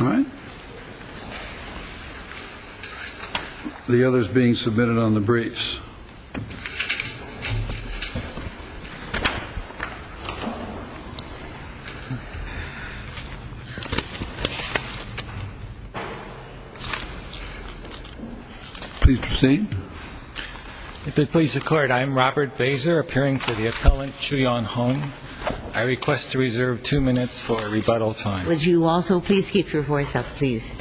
All right. The other is being submitted on the briefs. Please proceed. If it please the Court, I am Robert Baser, appearing for the appellant Chuyon Hong. I request to reserve two minutes for rebuttal time. Would you also please keep your voice up, please?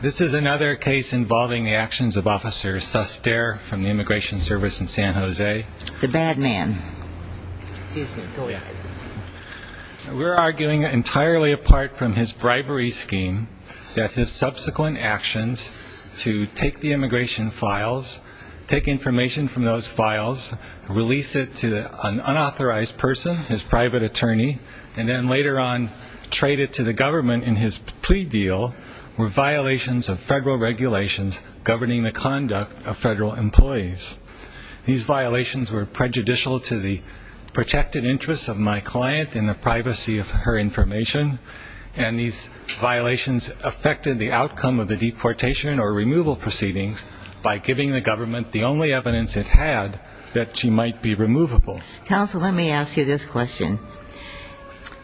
This is another case involving the actions of Officer Suster from the Immigration Service in San Jose. The bad man. We're arguing entirely apart from his bribery scheme that his subsequent actions to take the immigration files, take information from those files, release it to an unauthorized person, his private attorney, and then later on trade it to the government in his plea deal were violations of federal regulations governing the conduct of federal employees. These violations were prejudicial to the protected interests of my client and the privacy of her information, and these violations affected the outcome of the deportation or removal proceedings by giving the government the only evidence it had that she might be removable. Counsel, let me ask you this question.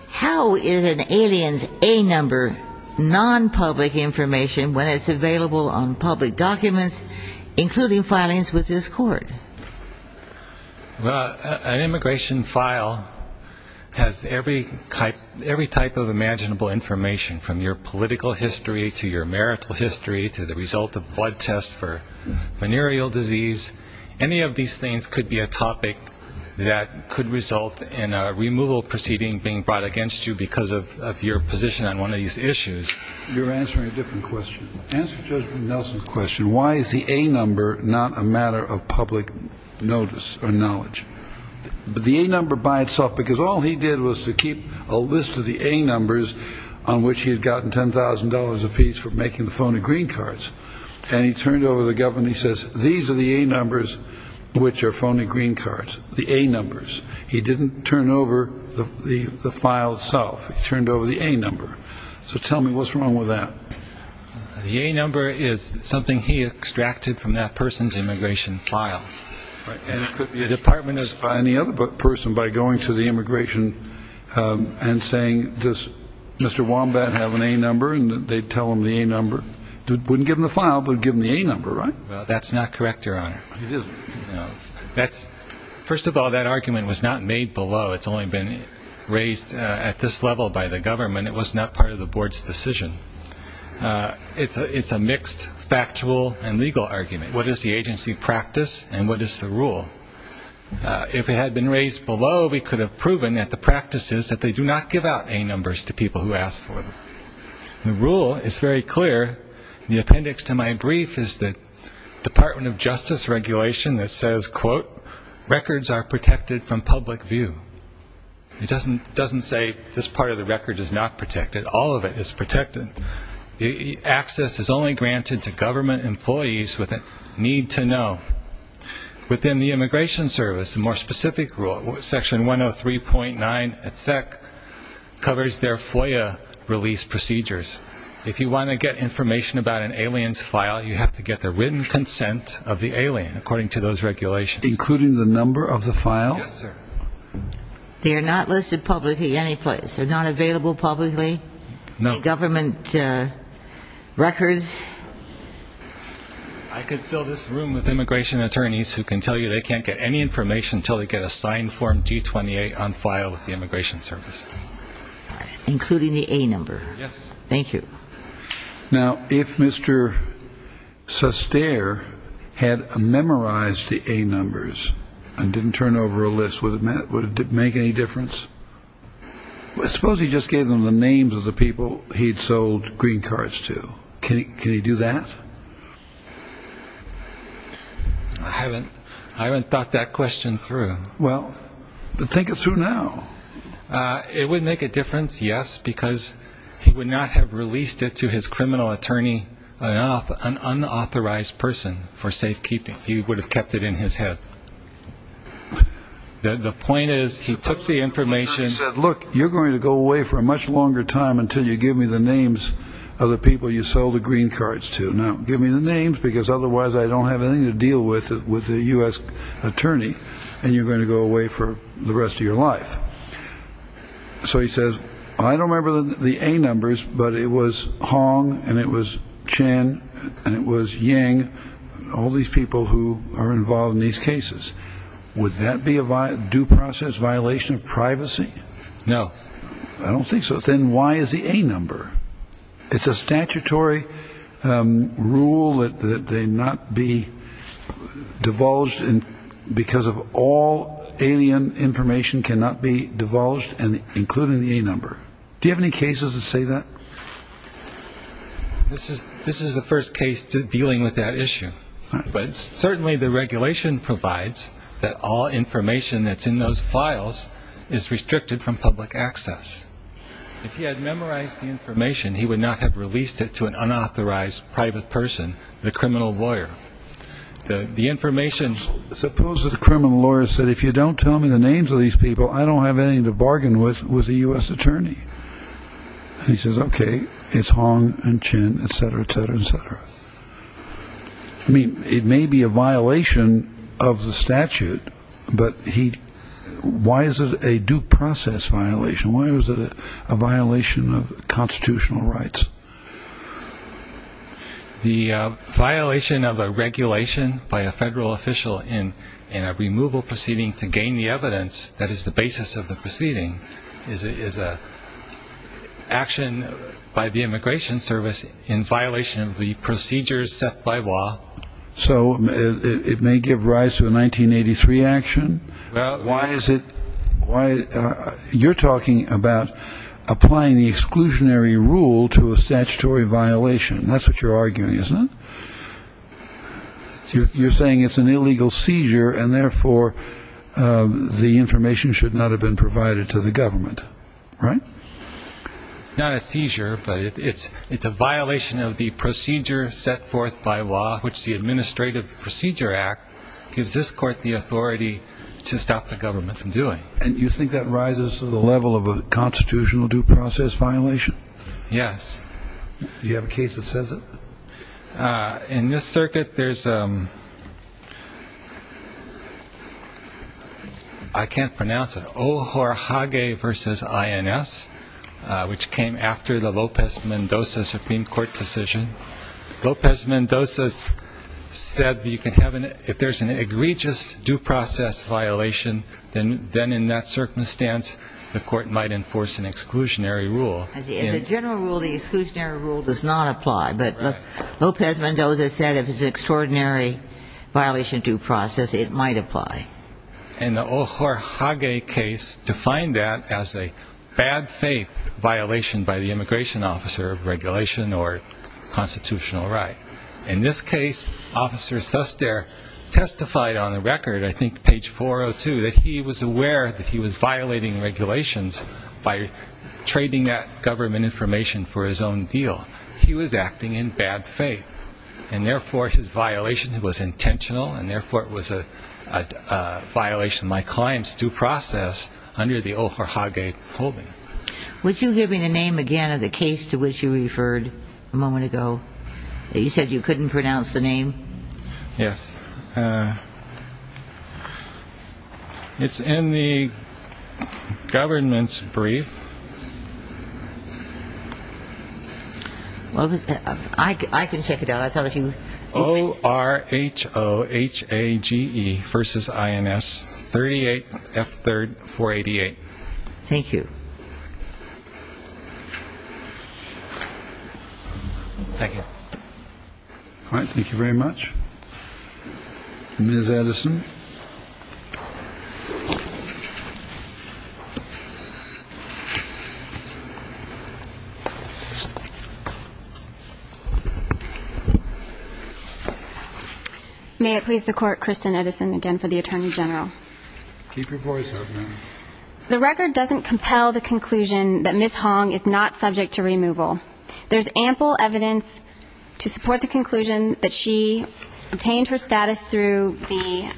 How is an alien's A number non-public information when it's available on public documents, including filings with this court? Well, an immigration file has every type of imaginable information, from your political history to your marital history to the result of blood tests for venereal disease. Any of these things could be a topic that could result in a removal proceeding being brought against you because of your position on one of these issues. You're answering a different question. Answer Judge Nelson's question. Why is the A number not a matter of public notice or knowledge? The A number by itself, because all he did was to keep a list of the A numbers on which he had gotten $10,000 apiece for making the phone and green cards, and he turned over to the government and he says, these are the A numbers which are phone and green cards, the A numbers. He didn't turn over the file itself. He turned over the A number. So tell me, what's wrong with that? The A number is something he extracted from that person's immigration file. And it could be a department of any other person by going to the immigration and saying, does Mr. Wombat have an A number? And they'd tell him the A number. Wouldn't give him the file, but give him the A number, right? Well, that's not correct, Your Honor. It isn't? No. First of all, that argument was not made below. It's only been raised at this level by the government. It was not part of the board's decision. It's a mixed factual and legal argument. What is the agency practice and what is the rule? If it had been raised below, we could have proven that the practice is that they do not give out A numbers to people who ask for them. The rule is very clear. The appendix to my brief is the Department of Justice regulation that says, quote, records are protected from public view. It doesn't say this part of the record is not protected. All of it is protected. Access is only granted to government employees with a need to know. Within the Immigration Service, a more specific rule, Section 103.9 SEC, covers their FOIA release procedures. If you want to get information about an alien's file, you have to get the written consent of the alien, according to those regulations. Including the number of the file? Yes, sir. They are not listed publicly anyplace. They're not available publicly? No. Government records? I could fill this room with immigration attorneys who can tell you that they can't get any information until they get a signed form G-28 on file with the Immigration Service. Including the A number? Yes. Thank you. Now, if Mr. Suster had memorized the A numbers and didn't turn over a list, would it make any difference? Suppose he just gave them the names of the people he'd sold green cards to. Can he do that? I haven't thought that question through. Well, think it through now. It would make a difference, yes, because he would not have released it to his criminal attorney, an unauthorized person, for safekeeping. He would have kept it in his head. The point is he took the information. Look, you're going to go away for a much longer time until you give me the names of the people you sold the green cards to. Now, give me the names because otherwise I don't have anything to deal with with a U.S. attorney, and you're going to go away for the rest of your life. So he says, I don't remember the A numbers, but it was Hong, and it was Chen, and it was Yang, all these people who are involved in these cases. Would that be a due process violation of privacy? No. I don't think so. Then why is the A number? It's a statutory rule that they not be divulged because all alien information cannot be divulged, including the A number. Do you have any cases that say that? This is the first case dealing with that issue. But certainly the regulation provides that all information that's in those files is restricted from public access. If he had memorized the information, he would not have released it to an unauthorized private person, the criminal lawyer. The information— Suppose that the criminal lawyer said, if you don't tell me the names of these people, I don't have anything to bargain with with a U.S. attorney. And he says, okay, it's Hong and Chen, et cetera, et cetera, et cetera. I mean, it may be a violation of the statute, but why is it a due process violation? Why is it a violation of constitutional rights? The violation of a regulation by a federal official in a removal proceeding to gain the evidence that is the basis of the proceeding is an action by the Immigration Service in violation of the procedures set by law. So it may give rise to a 1983 action? You're talking about applying the exclusionary rule to a statutory violation. That's what you're arguing, isn't it? You're saying it's an illegal seizure, and therefore the information should not have been provided to the government, right? It's not a seizure, but it's a violation of the procedure set forth by law, which the Administrative Procedure Act gives this court the authority to stop the government from doing. And you think that rises to the level of a constitutional due process violation? Yes. Do you have a case that says it? In this circuit, there's a ‑‑ I can't pronounce it. Ohorhage v. INS, which came after the Lopez Mendoza Supreme Court decision. Lopez Mendoza said if there's an egregious due process violation, then in that circumstance the court might enforce an exclusionary rule. As a general rule, the exclusionary rule does not apply, but Lopez Mendoza said if it's an extraordinary violation of due process, it might apply. And the Ohorhage case defined that as a bad faith violation by the immigration officer of regulation or constitutional right. In this case, Officer Suster testified on the record, I think page 402, that he was aware that he was violating regulations by trading that government information for his own deal. He was acting in bad faith, and therefore his violation was intentional, and therefore it was a violation of my client's due process under the Ohorhage holding. Would you give me the name again of the case to which you referred a moment ago? You said you couldn't pronounce the name. Yes. It's in the government's brief. I can check it out. O-R-H-O-H-A-G-E versus I-N-S-38-F-3-488. Thank you. Thank you. Thank you very much. Ms. Edison. May it please the Court, Kristen Edison again for the Attorney General. Keep your voice up, ma'am. The record doesn't compel the conclusion that Ms. Hong is not subject to removal. There's ample evidence to support the conclusion that she obtained her status through the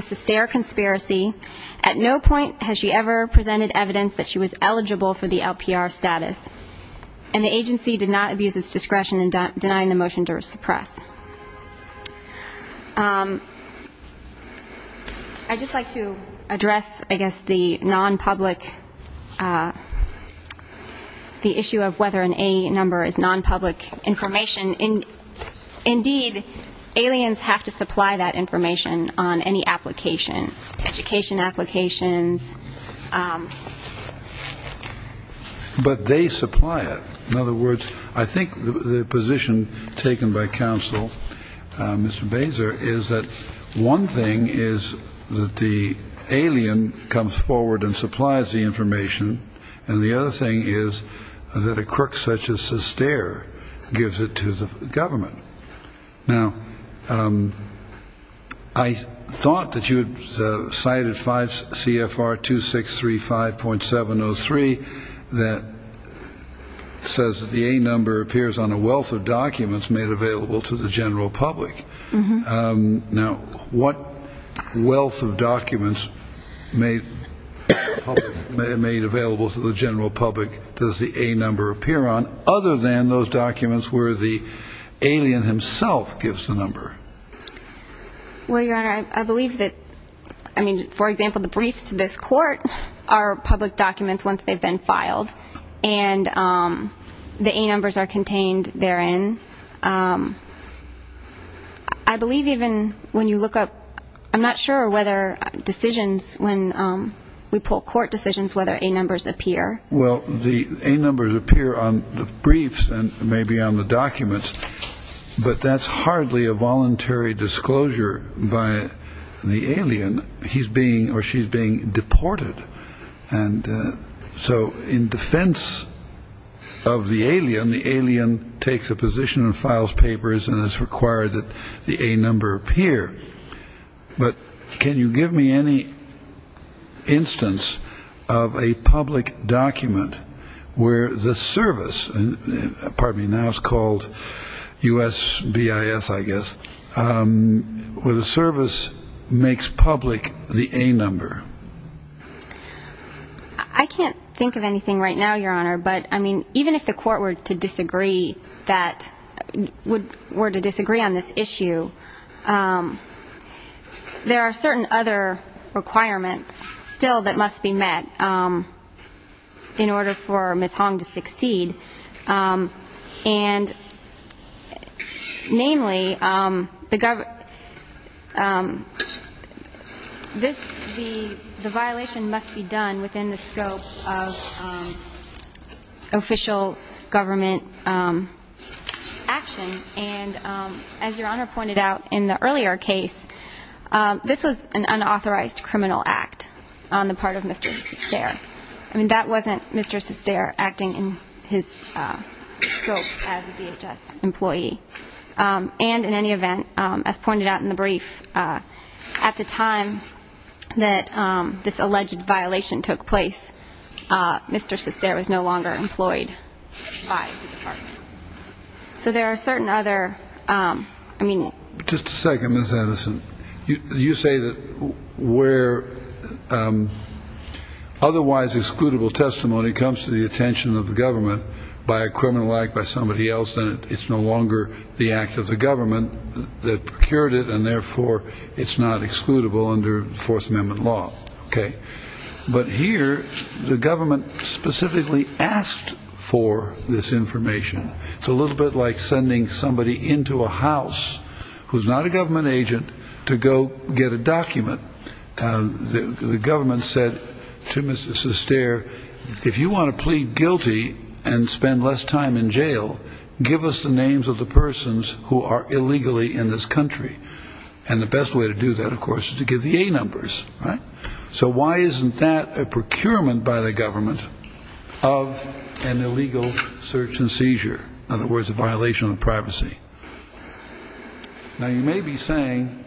Sustere conspiracy. At no point has she ever presented evidence that she was eligible for the LPR status, and the agency did not abuse its discretion in denying the motion to suppress. I'd just like to address, I guess, the issue of whether an A number is nonpublic information. Indeed, aliens have to supply that information on any application, education applications. But they supply it. In other words, I think the position taken by counsel, Mr. Bazer, is that one thing is that the alien comes forward and supplies the information, and the other thing is that a crook such as Sustere gives it to the government. Now, I thought that you had cited 5 CFR 2635.703 that says that the A number appears on a wealth of documents made available to the general public. Now, what wealth of documents made available to the general public does the A number appear on, other than those documents where the alien himself gives the number? Well, Your Honor, I believe that, I mean, for example, the briefs to this court are public documents once they've been filed, and the A numbers are contained therein. I believe even when you look up, I'm not sure whether decisions, when we pull court decisions, whether A numbers appear. Well, the A numbers appear on the briefs and maybe on the documents, but that's hardly a voluntary disclosure by the alien. He's being or she's being deported. And so in defense of the alien, the alien takes a position and files papers and is required that the A number appear. But can you give me any instance of a public document where the service, and pardon me, now it's called USBIS, I guess, where the service makes public the A number? I can't think of anything right now, Your Honor, but, I mean, even if the court were to disagree on this issue, there are certain other requirements still that must be met in order for Ms. Hong to succeed. And, namely, the violation must be done within the scope of official government action. And as Your Honor pointed out in the earlier case, this was an unauthorized criminal act on the part of Mr. Sestare. I mean, that wasn't Mr. Sestare acting in his scope as a DHS employee. And in any event, as pointed out in the brief, at the time that this alleged violation took place, Mr. Sestare was no longer employed by the department. So there are certain other, I mean- Just a second, Ms. Anderson. You say that where otherwise excludable testimony comes to the attention of the government by a criminal act by somebody else, then it's no longer the act of the government that procured it, and therefore it's not excludable under Fourth Amendment law. Okay. But here the government specifically asked for this information. It's a little bit like sending somebody into a house who's not a government agent to go get a document. The government said to Mr. Sestare, if you want to plead guilty and spend less time in jail, give us the names of the persons who are illegally in this country. And the best way to do that, of course, is to give the A numbers, right? So why isn't that a procurement by the government of an illegal search and seizure? In other words, a violation of privacy. Now, you may be saying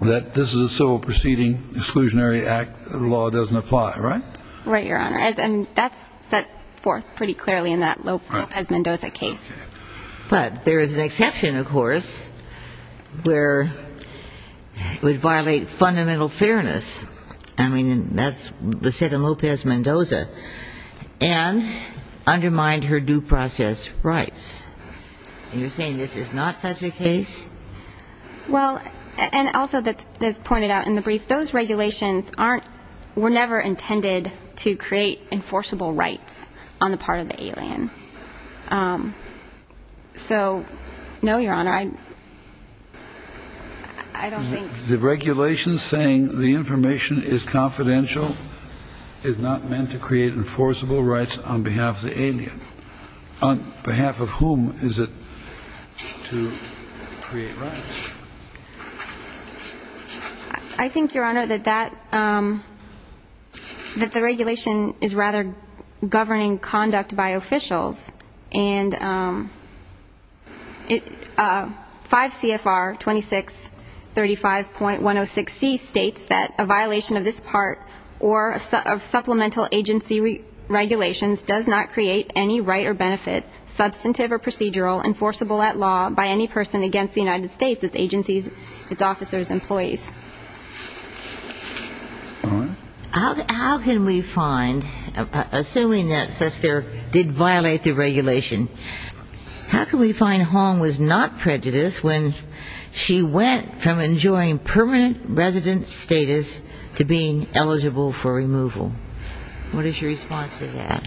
that this is a civil proceeding, exclusionary act, the law doesn't apply, right? Right, Your Honor. And that's set forth pretty clearly in that Lopez Mendoza case. But there is an exception, of course, where it would violate fundamental fairness. I mean, that's set in Lopez Mendoza. And undermine her due process rights. And you're saying this is not such a case? Well, and also, as pointed out in the brief, those regulations were never intended to create enforceable rights on the part of the alien. So, no, Your Honor, I don't think. The regulations saying the information is confidential is not meant to create enforceable rights on behalf of the alien. On behalf of whom is it to create rights? I think, Your Honor, that the regulation is rather governing conduct by officials. And 5 CFR 2635.106C states that a violation of this part or of supplemental agency regulations does not create any right or benefit, substantive or procedural, enforceable at law by any person against the United States, its agencies, its officers, employees. All right. How can we find, assuming that Sester did violate the regulation, how can we find Hong was not prejudiced when she went from enjoying permanent resident status to being eligible for removal? What is your response to that?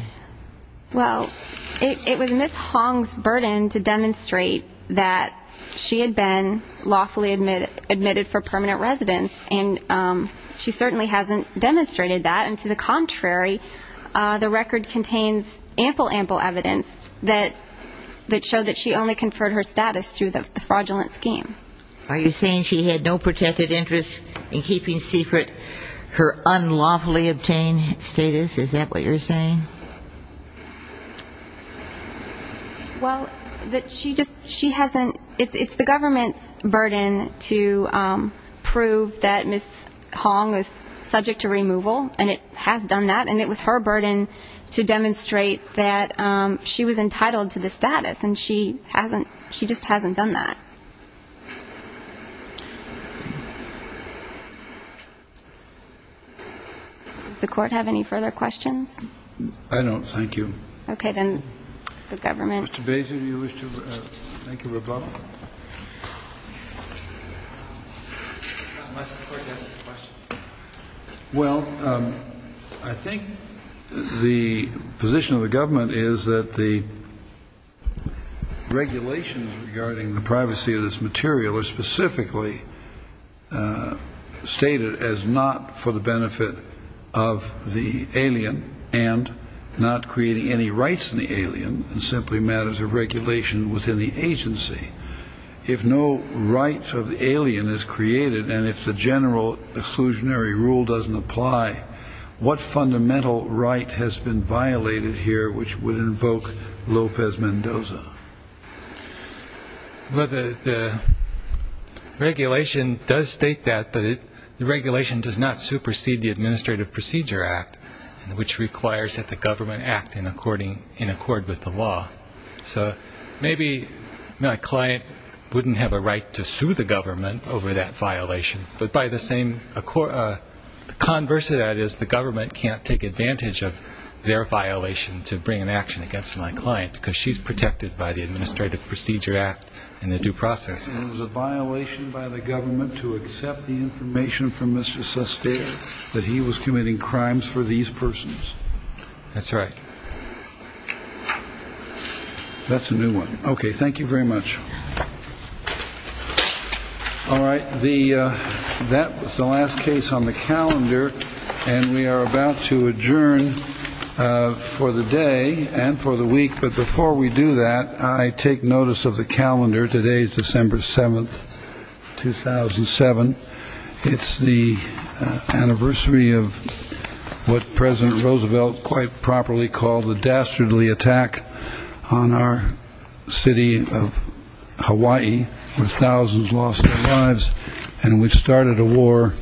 Well, it was Ms. Hong's burden to demonstrate that she had been lawfully admitted for permanent residence. And she certainly hasn't demonstrated that. And to the contrary, the record contains ample, ample evidence that showed that she only conferred her status through the fraudulent scheme. Are you saying she had no protected interest in keeping secret her unlawfully obtained status? Is that what you're saying? Well, that she just hasn't. It's the government's burden to prove that Ms. Hong was subject to removal, and it has done that. And it was her burden to demonstrate that she was entitled to the status. And she just hasn't done that. Does the Court have any further questions? I don't. Thank you. Okay. Then the government. Mr. Bazer, do you wish to thank the rebuttal? Unless the Court has a question. Well, I think the position of the government is that the regulations regarding the privacy of this material are specifically stated as not for the benefit of the alien and not creating any rights in the alien, and simply matters of regulation within the agency. If no right of the alien is created and if the general exclusionary rule doesn't apply, what fundamental right has been violated here which would invoke Lopez Mendoza? Well, the regulation does state that, but the regulation does not supersede the Administrative Procedure Act, which requires that the government act in accord with the law. So maybe my client wouldn't have a right to sue the government over that violation, but by the same, the converse of that is the government can't take advantage of their violation to bring an action against my client because she's protected by the Administrative Procedure Act and the due processes. It was a violation by the government to accept the information from Mr. Sestero that he was committing crimes for these persons. That's right. That's a new one. Okay, thank you very much. All right, that was the last case on the calendar, and we are about to adjourn for the day and for the week. But before we do that, I take notice of the calendar. Today is December 7, 2007. It's the anniversary of what President Roosevelt quite properly called the dastardly attack on our city of Hawaii, where thousands lost their lives, and which started a war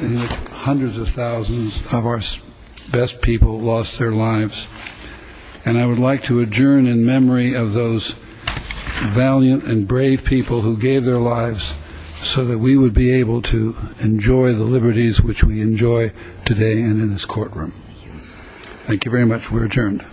in which hundreds of thousands of our best people lost their lives. And I would like to adjourn in memory of those valiant and brave people who gave their lives so that we would be able to enjoy the liberties which we enjoy today and in this courtroom. Thank you very much. We're adjourned.